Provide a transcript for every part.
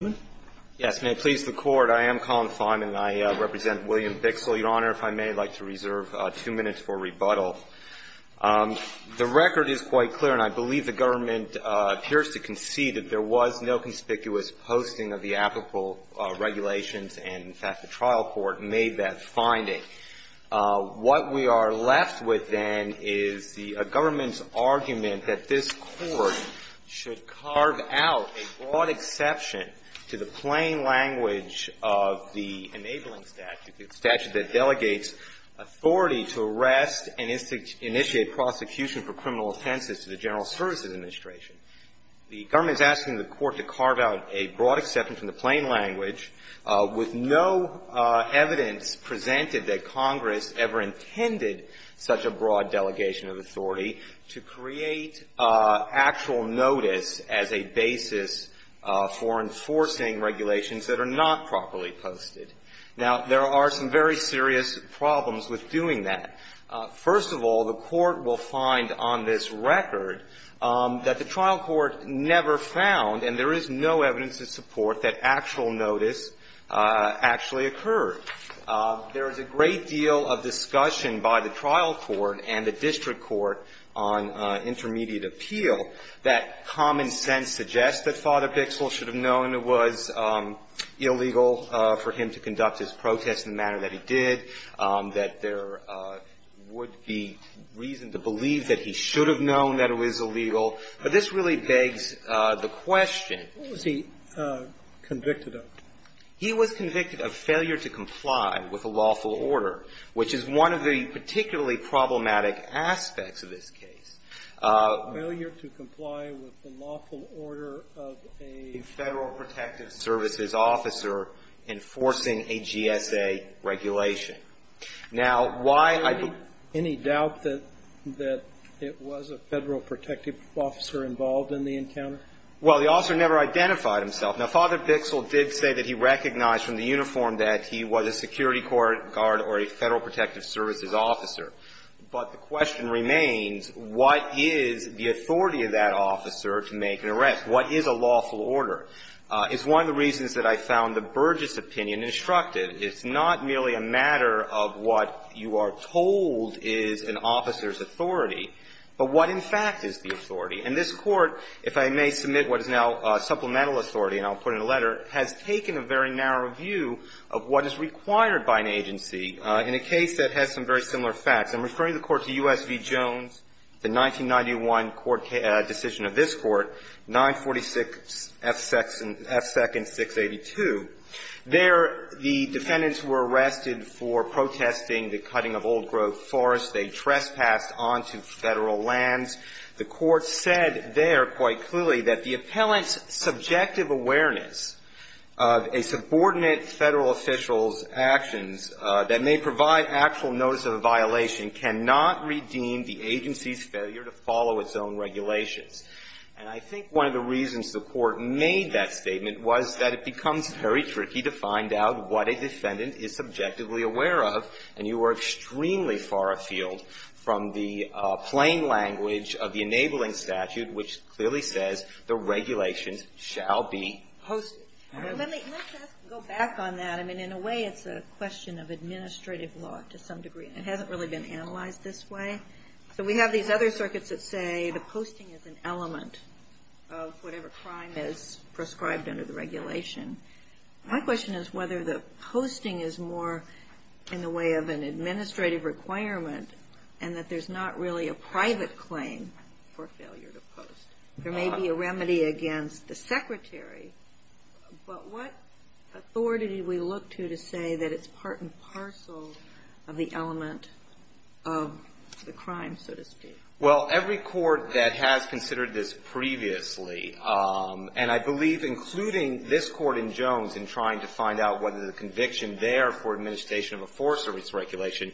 Your Honor, if I may, I'd like to reserve two minutes for rebuttal. The record is quite clear, and I believe the government appears to concede that there was no conspicuous posting of the applicable regulations, and, in fact, the trial court made that finding. What we are left with, then, is the government's argument that this Court should carve out a broad exception to the plain language of the enabling statute, the statute that delegates authority to arrest and initiate prosecution for criminal offenses to the General Services Administration. The government is asking the Court to carve out a broad exception from the plain language with no evidence presented that Congress ever intended such a broad delegation of authority to create actual notice as a basis for enforcing regulations that are not properly posted. Now, there are some very serious problems with doing that. First of all, the Court will find on this record that the trial court never found, and there is no evidence to support, that actual notice actually occurred. There is a great deal of discussion by the trial court and the district court on intermediate appeal that common sense suggests that Father Bichsel should have known it was illegal for him to conduct his protests in the manner that he did, that there would be reason to believe that he should have known that it was illegal. But this really begs the question of the question. What was he convicted of? He was convicted of failure to comply with a lawful order, which is one of the particularly problematic aspects of this case. Failure to comply with the lawful order of a Federal Protective Services officer enforcing a GSA regulation. Now, why I put any doubt that it was a Federal Protective Officer involved in the encounter? Well, the officer never identified himself. Now, Father Bichsel did say that he recognized from the uniform that he was a security court guard or a Federal Protective Services officer. But the question remains, what is the authority of that officer to make an arrest? What is a lawful order? It's one of the reasons that I found the Burgess opinion instructive. It's not merely a matter of what you are told is an officer's authority, but what in fact is the authority. And this Court, if I may submit what is now supplemental authority, and I'll put it in a letter, has taken a very narrow view of what is required by an agency in a case that has some very similar facts. I'm referring the Court to U.S. v. Jones, the 1991 decision of this Court, 946F7, F2nd 682. There, the defendants were arrested for protesting the cutting of old-growth forests they'd trespassed onto Federal lands. The Court said there quite clearly that the appellant's subjective awareness of a subordinate Federal official's actions that may provide actual notice of a violation cannot redeem the agency's failure to follow its own regulations. And I think one of the reasons the Court made that statement was that it becomes very tricky to find out what a defendant is subjectively aware of, and you are extremely far afield from the plain language of the enabling statute, which clearly says the regulations shall be posted. And I think that's the reason why the Court has taken a narrow view of what is required by an agency in a case that has some very similar facts. So we have these other circuits that say the posting is an element of whatever crime is prescribed under the regulation. My question is whether the posting is more in the way of an administrative requirement and that there's not really a private claim for failure to post. There may be a remedy against the Secretary, but what authority do we look to to say that it's part and parcel of the element of the crime, so to speak? Well, every court that has considered this previously, and I believe including this Court in Jones in trying to find out whether the conviction there for administration of a force or its regulation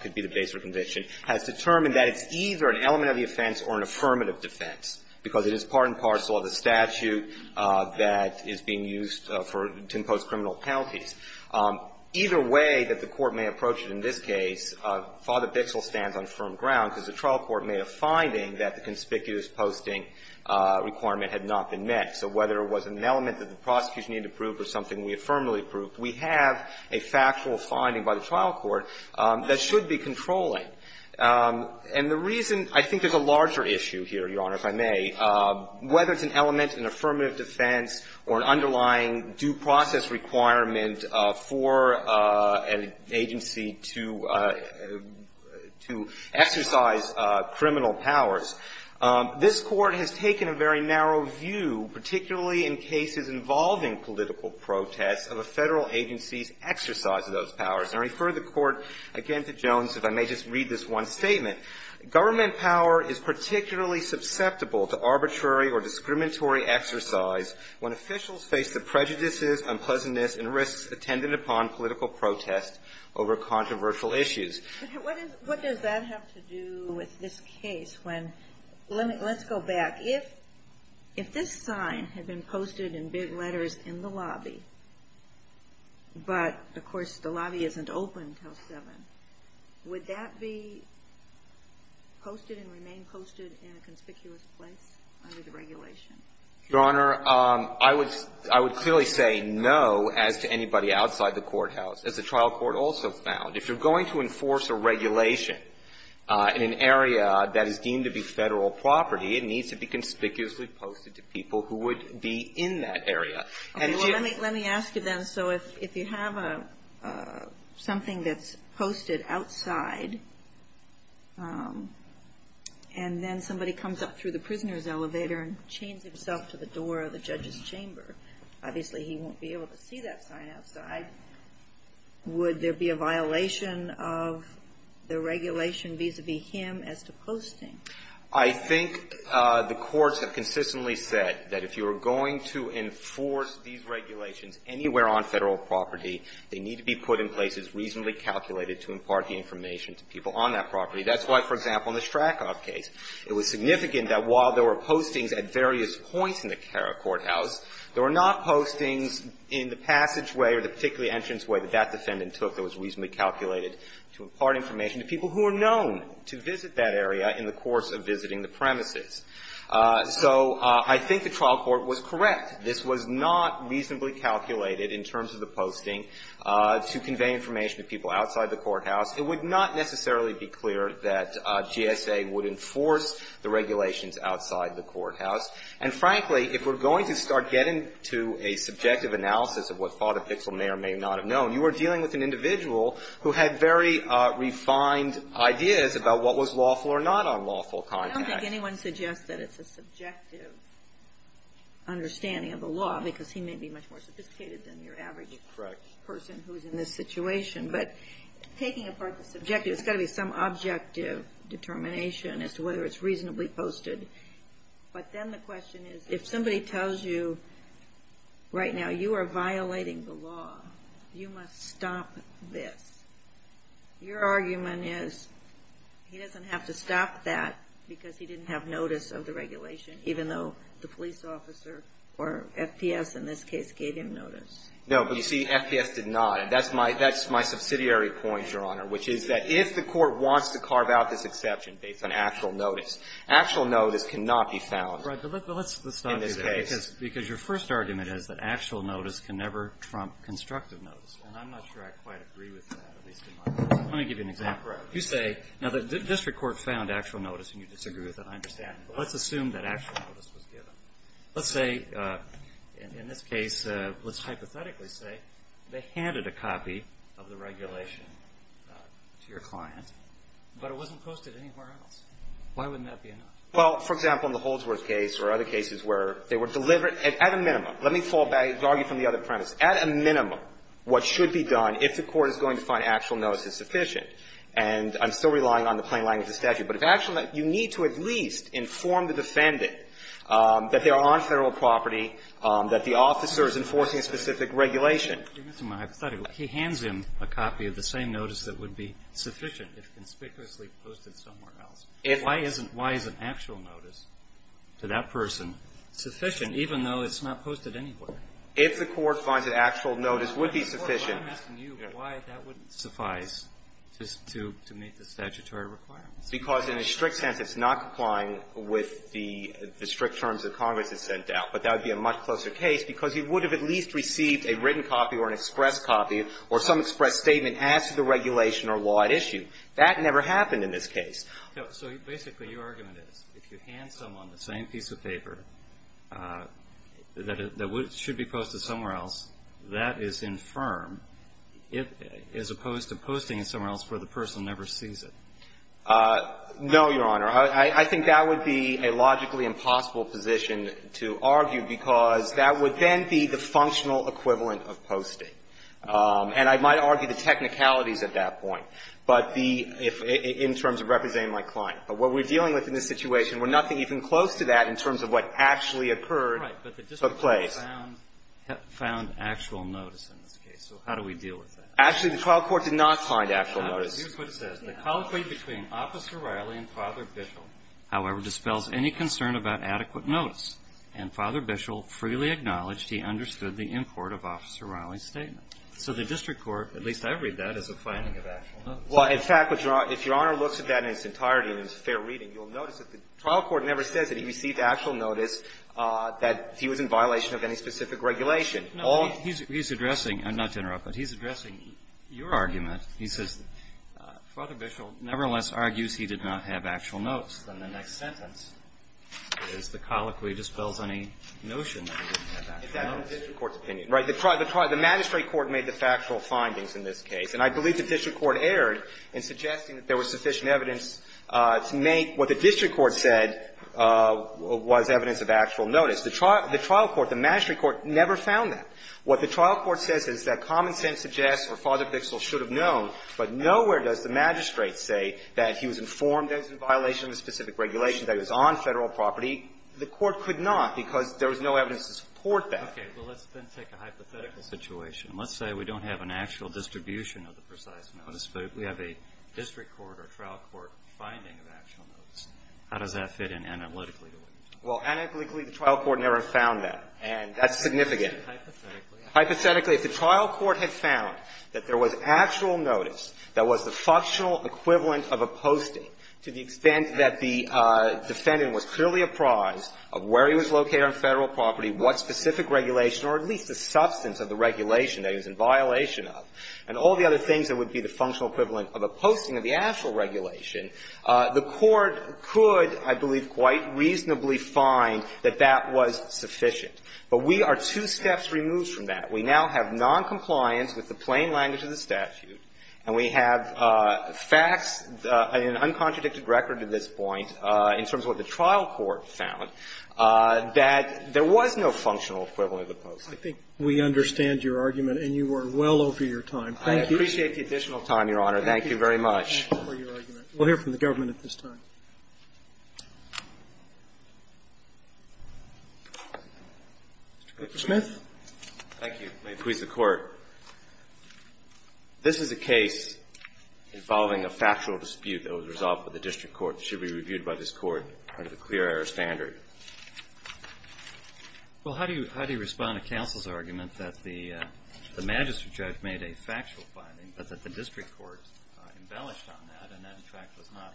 could be the base of a conviction, has determined that it's either an element of the offense or an affirmative defense, because it is part and parcel of the statute that is being used for to impose criminal penalties. Either way that the Court may approach it in this case, Father Bixle stands on firm ground, because the trial court made a finding that the conspicuous posting requirement had not been met. So whether it was an element that the prosecution needed to prove or something we affirmatively proved, we have a factual finding by the trial court that should be controlling. And the reason — I think there's a larger issue here, Your Honor, if I may, whether it's an element in affirmative defense or an underlying due process requirement for an agency to — to exercise criminal powers. This Court has taken a very narrow view, particularly in cases involving political protests, of a Federal agency's exercise of those powers. And I refer the Court, again, to Jones, if I may just read this one statement. Government power is particularly susceptible to arbitrary or discriminatory exercise when officials face the prejudices, unpleasantness, and risks attended upon political protest over controversial issues. What does that have to do with this case when — let me — let's go back. If — if this sign had been posted in big letters in the lobby, but, of course, the trial court hasn't opened House 7, would that be posted and remain posted in a conspicuous place under the regulation? Your Honor, I would — I would clearly say no as to anybody outside the courthouse. As the trial court also found, if you're going to enforce a regulation in an area that is deemed to be Federal property, it needs to be conspicuously posted to people who would be in that area. And it's just — Okay. Well, let me — let me ask you then. So if — if you have a — something that's posted outside, and then somebody comes up through the prisoner's elevator and chains himself to the door of the judge's chamber, obviously, he won't be able to see that sign outside. Would there be a violation of the regulation vis-a-vis him as to posting? I think the courts have consistently said that if you are going to enforce these regulations anywhere on Federal property, they need to be put in places reasonably calculated to impart the information to people on that property. That's why, for example, in the Strakhov case, it was significant that while there were postings at various points in the courthouse, there were not postings in the passage way or the particular entrance way that that defendant took that was reasonably calculated to impart information to people who are known to visit that area in the course of visiting the premises. So I think the trial court was correct. This was not reasonably calculated in terms of the posting to convey information to people outside the courthouse. It would not necessarily be clear that GSA would enforce the regulations outside the courthouse. And frankly, if we're going to start getting to a subjective analysis of what Father was doing, we need to start with an individual who had very refined ideas about what was lawful or not on lawful context. I don't think anyone suggests that it's a subjective understanding of the law, because he may be much more sophisticated than your average person who's in this situation. But taking apart the subjective, there's got to be some objective determination as to whether it's reasonably posted. But then the question is, if somebody tells you right now you are violating the law, you must stop this. Your argument is he doesn't have to stop that because he didn't have notice of the regulation, even though the police officer or FPS in this case gave him notice. No, but you see, FPS did not. And that's my subsidiary point, Your Honor, which is that if the court wants to carve out this exception based on actual notice, actual notice cannot be found in this case. Right. But let's stop you there, because your first argument is that actual notice can never trump constructive notice. And I'm not sure I quite agree with that, at least in my view. Let me give you an example. Right. You say, now, the district court found actual notice, and you disagree with it. I understand. But let's assume that actual notice was given. Let's say, in this case, let's hypothetically say they handed a copy of the regulation to your client, but it wasn't posted anywhere else. Why wouldn't that be enough? Well, for example, in the Holdsworth case or other cases where they were delivered at a minimum, let me fall back and argue from the other premise. At a minimum, what should be done, if the court is going to find actual notice is sufficient, and I'm still relying on the plain language of statute. But if actual notice, you need to at least inform the defendant that they are on Federal property, that the officer is enforcing a specific regulation. Mr. Mahathatu, he hands him a copy of the same notice that would be sufficient if conspicuously posted somewhere else. If I isn't why is an actual notice to that person sufficient, even though it's not posted anywhere? If the court finds that actual notice would be sufficient. I'm asking you why that wouldn't suffice just to meet the statutory requirements. Because in a strict sense, it's not complying with the strict terms that Congress has sent out. But that would be a much closer case, because he would have at least received a written copy or an express copy or some express statement as to the regulation or law at issue. That never happened in this case. So basically, your argument is if you hand someone the same piece of paper that should be posted somewhere else, that is infirm, as opposed to posting it somewhere else where the person never sees it. No, Your Honor. I think that would be a logically impossible position to argue, because that would then be the functional equivalent of posting. And I might argue the technicalities at that point. But the – in terms of representing my client. But what we're dealing with in this situation, we're nothing even close to that in terms of what actually occurred or took place. Right. But the district court found actual notice in this case. So how do we deal with that? Actually, the trial court did not find actual notice. Here's what it says. The colloquy between Officer Riley and Father Bishel, however, dispels any concern about adequate notice. And Father Bishel freely acknowledged he understood the import of Officer Riley's statement. So the district court, at least I read that, is a finding of actual notice. Well, in fact, if Your Honor looks at that in its entirety in its fair reading, you'll notice that the trial court never says that he received actual notice that he was in violation of any specific regulation. No, he's addressing – not to interrupt, but he's addressing your argument. He says Father Bishel nevertheless argues he did not have actual notice. Then the next sentence is the colloquy dispels any notion that he didn't have actual notice. It's the district court's opinion. Right. The magistrate court made the factual findings in this case. And I believe the district court erred in suggesting that there was sufficient evidence to make what the district court said was evidence of actual notice. The trial court, the magistrate court never found that. What the trial court says is that common sense suggests that Father Bishel should have known, but nowhere does the magistrate say that he was informed that he was in violation of a specific regulation, that he was on Federal property. The court could not because there was no evidence to support that. Okay. Well, let's then take a hypothetical situation. Let's say we don't have an actual distribution of the precise notice, but we have a district court or trial court finding of actual notice. How does that fit in analytically to what you're talking about? Well, analytically, the trial court never found that. And that's significant. Hypothetically? Hypothetically, if the trial court had found that there was actual notice that was the functional equivalent of a posting to the extent that the defendant was clearly taking a prize of where he was located on Federal property, what specific regulation or at least the substance of the regulation that he was in violation of, and all the other things that would be the functional equivalent of a posting of the actual regulation, the court could, I believe, quite reasonably find that that was sufficient. But we are two steps removed from that. We now have noncompliance with the plain language of the statute, and we have facts in an uncontradicted record at this point in terms of what the trial court said was that the trial court found that there was no functional equivalent of the posting. I think we understand your argument, and you are well over your time. Thank you. I appreciate the additional time, Your Honor. Thank you very much. Thank you for your argument. We'll hear from the government at this time. Mr. Smith. Thank you. May it please the Court. This is a case involving a factual dispute that was resolved with the district court, should be reviewed by this court under the clear air standard. Well, how do you respond to counsel's argument that the magistrate judge made a factual finding, but that the district court embellished on that, and that, in fact, was not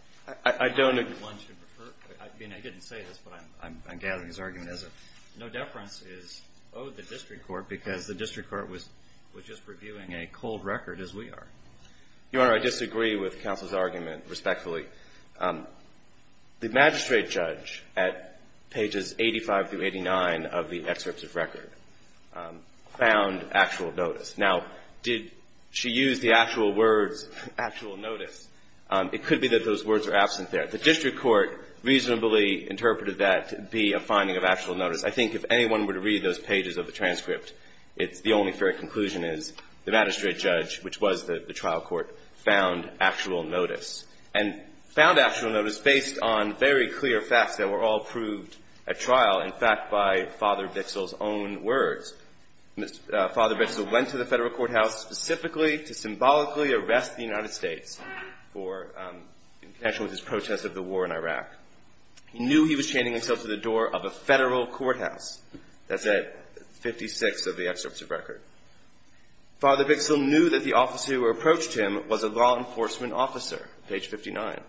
I don't I mean, I didn't say this, but I'm gathering his argument as a no-deference is owed the district court because the district court was just reviewing a cold record as we are. Your Honor, I disagree with counsel's argument, respectfully. The magistrate judge at pages 85 through 89 of the excerpts of record found actual notice. Now, did she use the actual words, actual notice? It could be that those words are absent there. The district court reasonably interpreted that to be a finding of actual notice. I think if anyone were to read those pages of the transcript, it's the only fair conclusion is the magistrate judge, which was the trial court, found actual notice. And found actual notice based on very clear facts that were all proved at trial, in fact, by Father Bixell's own words. Father Bixell went to the Federal courthouse specifically to symbolically arrest the United States for connection with his protest of the war in Iraq. He knew he was chaining himself to the door of a Federal courthouse. That's at 56 of the excerpts of record. Father Bixell knew that the officer who approached him was a law enforcement officer, page 59.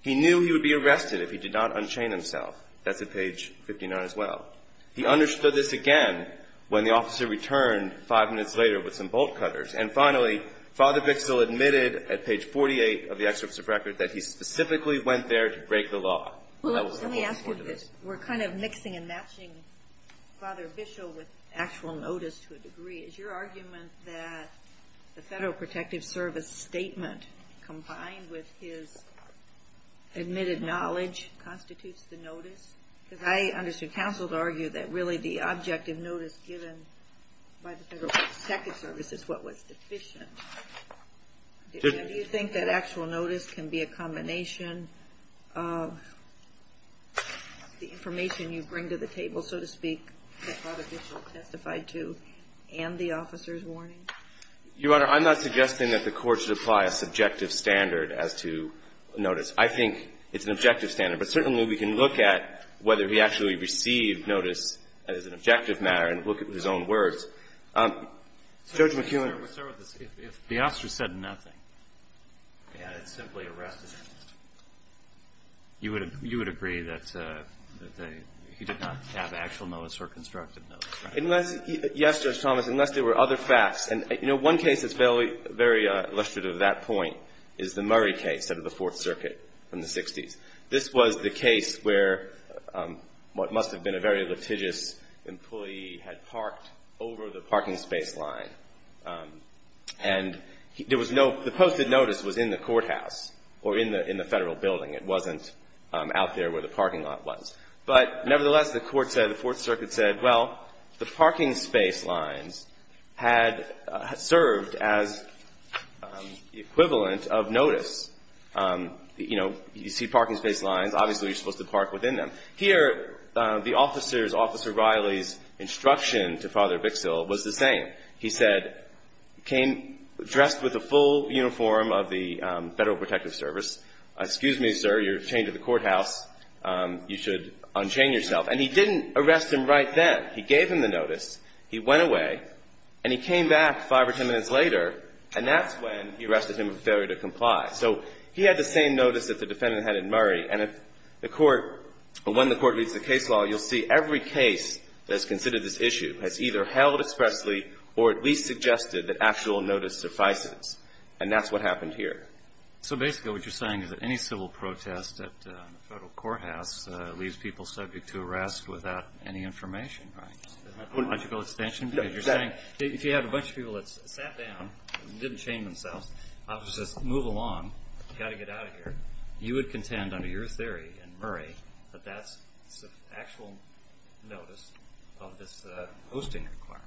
He knew he would be arrested if he did not unchain himself. That's at page 59 as well. He understood this again when the officer returned five minutes later with some bolt cutters. And finally, Father Bixell admitted at page 48 of the excerpts of record that he specifically went there to break the law. That was the whole report of this. Is your argument that the Federal Protective Service statement combined with his admitted knowledge constitutes the notice? Because I understood counsel to argue that really the objective notice given by the Federal Protective Service is what was deficient. Do you think that actual notice can be a combination of the information you bring to the table, so to speak, that Father Bixell testified to and the officer's warning? Your Honor, I'm not suggesting that the Court should apply a subjective standard as to notice. I think it's an objective standard. But certainly we can look at whether he actually received notice as an objective matter and look at his own words. Judge McEwen. Let's start with this. If the officer said nothing and had simply arrested him, you would agree that he did not have actual notice or constructive notice, right? Yes, Judge Thomas, unless there were other facts. And, you know, one case that's very illustrative of that point is the Murray case out of the Fourth Circuit in the 60s. This was the case where what must have been a very litigious employee had parked over the parking space line. And there was no – the posted notice was in the courthouse or in the Federal building. It wasn't out there where the parking lot was. But nevertheless, the Court said, the Fourth Circuit said, well, the parking space lines had served as the equivalent of notice. You know, you see parking space lines. Obviously, you're supposed to park within them. Here, the officer's, Officer Riley's instruction to Father Bixill was the same. He said, came dressed with a full uniform of the Federal Protective Service, excuse me, sir, you're chained to the courthouse, you should unchain yourself. And he didn't arrest him right then. He gave him the notice. He went away. And he came back five or ten minutes later, and that's when he arrested him of failure to comply. So he had the same notice that the defendant had in Murray. And if the Court – when the Court reads the case law, you'll see every case that's considered this issue has either held expressly or at least suggested that actual notice suffices. And that's what happened here. So basically, what you're saying is that any civil protest at the Federal courthouse leaves people subject to arrest without any information, right? Is that a logical extension? Because you're saying, if you have a bunch of people that sat down and didn't chain themselves, the officer says, move along, you've got to get out of here, you would contend, under your theory in Murray, that that's actual notice of this posting requirement.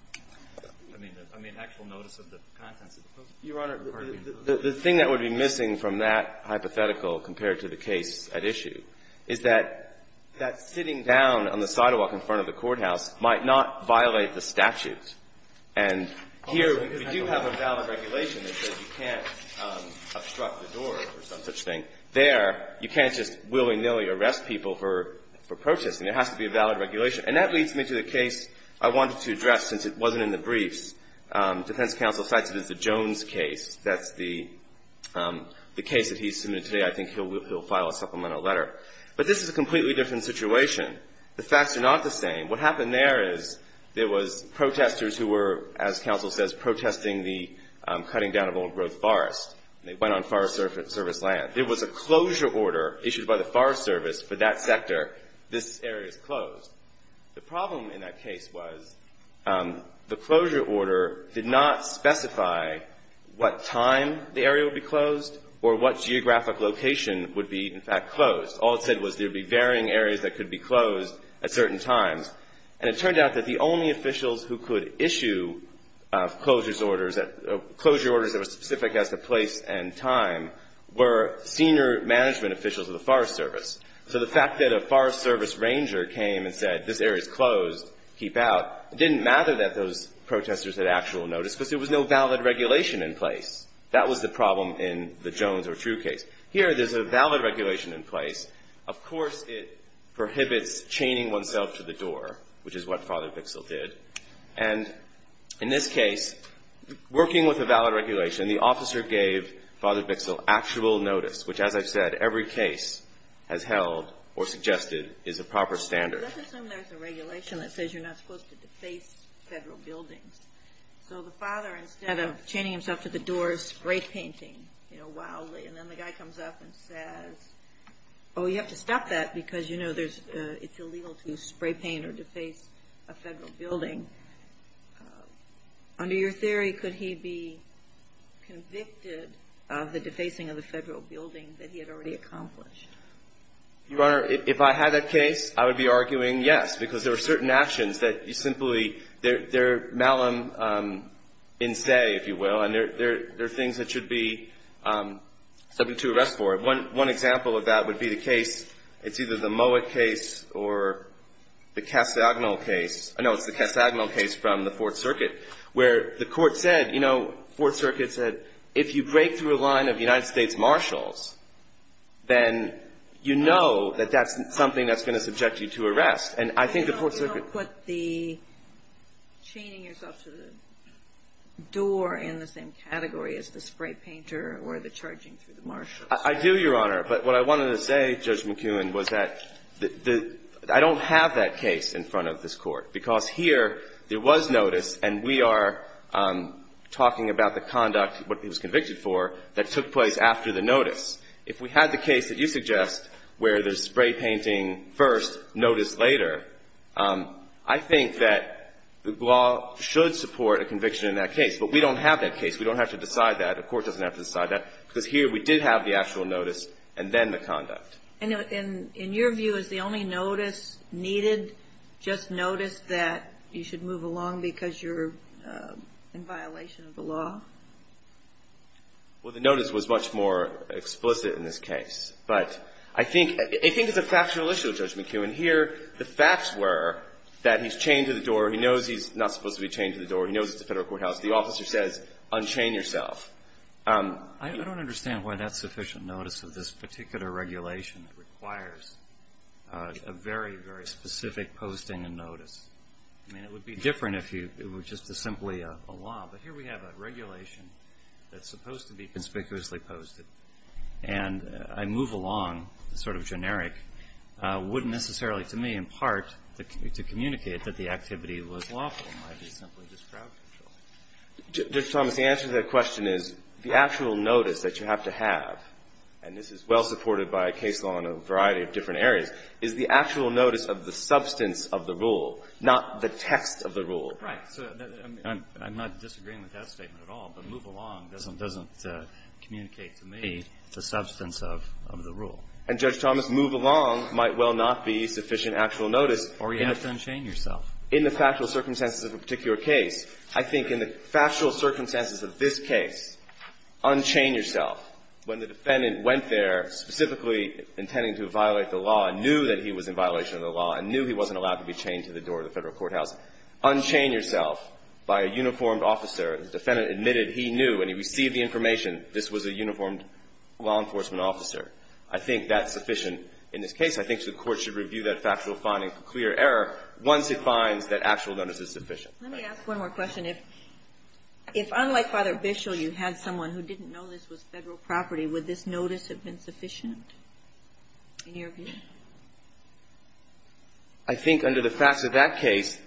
I mean, actual notice of the contents of the posting. Your Honor, the thing that would be missing from that hypothetical compared to the case at issue is that that sitting down on the sidewalk in front of the courthouse might not violate the statute. And here, we do have a valid regulation that says you can't obstruct the door or some such thing. There, you can't just willy-nilly arrest people for protesting. There has to be a valid regulation. And that leads me to the case I wanted to address since it wasn't in the briefs. Defense counsel cites it as the Jones case. That's the case that he submitted today. I think he'll file a supplemental letter. But this is a completely different situation. The facts are not the same. What happened there is there was protesters who were, as counsel says, protesting the cutting down of old growth forest. They went on Forest Service land. There was a closure order issued by the Forest Service for that sector. This area is closed. The problem in that case was the closure order did not specify what time the area would be closed or what geographic location would be, in fact, closed. All it said was there would be varying areas that could be closed at certain times. And it turned out that the only officials who could issue closure orders that were specific as to place and time were senior management officials of the Forest Service. So the fact that a Forest Service ranger came and said, this area is closed, keep out, it didn't matter that those protesters had actual notice because there was no valid regulation in place. That was the problem in the Jones or True case. Here, there's a valid regulation in place. Of course, it prohibits chaining oneself to the door, which is what Father Bixel did. And in this case, working with a valid regulation, the officer gave Father Bixel actual notice, which, as I've said, every case has held or suggested is a proper standard. Let's assume there's a regulation that says you're not supposed to deface Federal buildings. So the father, instead of chaining himself to the door, spray painting wildly. And then the guy comes up and says, oh, you have to stop that because, you know, it's illegal to spray paint or deface a Federal building. Under your theory, could he be convicted of the defacing of the Federal building that he had already accomplished? Your Honor, if I had that case, I would be arguing yes, because there are certain actions that you simply, they're malum in se, if you will, and there are things that should be subject to arrest for. One example of that would be the case, it's either the Mowat case or the Castagnol case from the Fourth Circuit, where the Court said, you know, Fourth Circuit said, if you break through a line of United States marshals, then you know that that's something that's going to subject you to arrest. And I think the Fourth Circuit You don't put the chaining yourself to the door in the same category as the spray painter or the charging through the marshals. I do, Your Honor. But what I wanted to say, Judge McKeown, was that the, I don't have that case in front of this Court, because here there was notice and we are talking about the conduct, what he was convicted for, that took place after the notice. If we had the case that you suggest where there's spray painting first, notice later, I think that the law should support a conviction in that case. But we don't have that case. We don't have to decide that. The Court doesn't have to decide that, because here we did have the actual notice and then the conduct. And in your view, is the only notice needed just notice that you should move along because you're in violation of the law? Well, the notice was much more explicit in this case. But I think it's a factual issue, Judge McKeown. Here, the facts were that he's chained to the door. He knows he's not supposed to be chained to the door. He knows it's a Federal courthouse. The officer says, unchain yourself. I don't understand why that's sufficient notice of this particular regulation that requires a very, very specific posting and notice. I mean, it would be different if it were just simply a law. But here we have a regulation that's supposed to be conspicuously posted. And I move along, sort of generic, wouldn't necessarily to me, in part, to communicate that the activity was lawful. It might be simply just crowd control. Judge Thomas, the answer to that question is, the actual notice that you have to have, and this is well supported by case law in a variety of different areas, is the actual notice of the substance of the rule, not the text of the rule. Right. So I'm not disagreeing with that statement at all. But move along doesn't communicate to me the substance of the rule. And, Judge Thomas, move along might well not be sufficient actual notice. Or you have to unchain yourself. In the factual circumstances of a particular case, I think in the factual circumstances of this case, unchain yourself. When the defendant went there specifically intending to violate the law and knew that he was in violation of the law and knew he wasn't allowed to be chained to the door of the Federal courthouse, unchain yourself by a uniformed officer. The defendant admitted he knew and he received the information this was a uniformed law enforcement officer. I think that's sufficient in this case. I think the court should review that factual finding for clear error once it finds that actual notice is sufficient. Let me ask one more question. If unlike Father Bishel, you had someone who didn't know this was Federal property, would this notice have been sufficient in your view? I think under the facts of that case,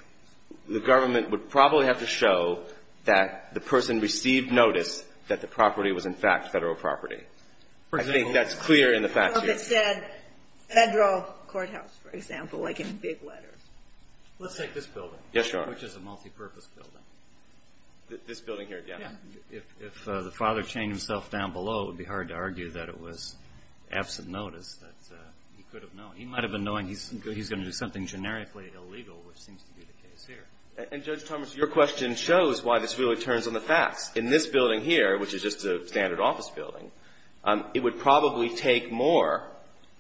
the government would probably have to show that the person received notice that the property was, in fact, Federal property. I think that's clear in the facts here. Well, if it said Federal courthouse, for example, like in big letters. Let's take this building. Yes, Your Honor. Which is a multipurpose building. This building here again? Yeah. If the father chained himself down below, it would be hard to argue that it was absent notice that he could have known. He might have been knowing he's going to do something generically illegal, which seems to be the case here. And Judge Thomas, your question shows why this really turns on the facts. In this building here, which is just a standard office building, it would probably take more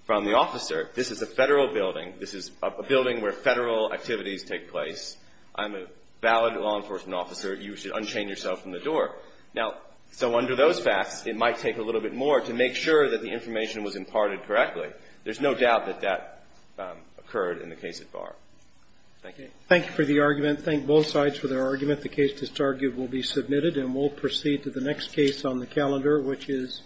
from the officer. This is a Federal building. This is a building where Federal activities take place. I'm a valid law enforcement officer. You should unchain yourself from the door. Now, so under those facts, it might take a little bit more to make sure that the information was imparted correctly. There's no doubt that that occurred in the case at Barr. Thank you. Thank you for the argument. Thank both sides for their argument. The case that's argued will be submitted, and we'll proceed to the next case on the calendar, which is the case at Barr.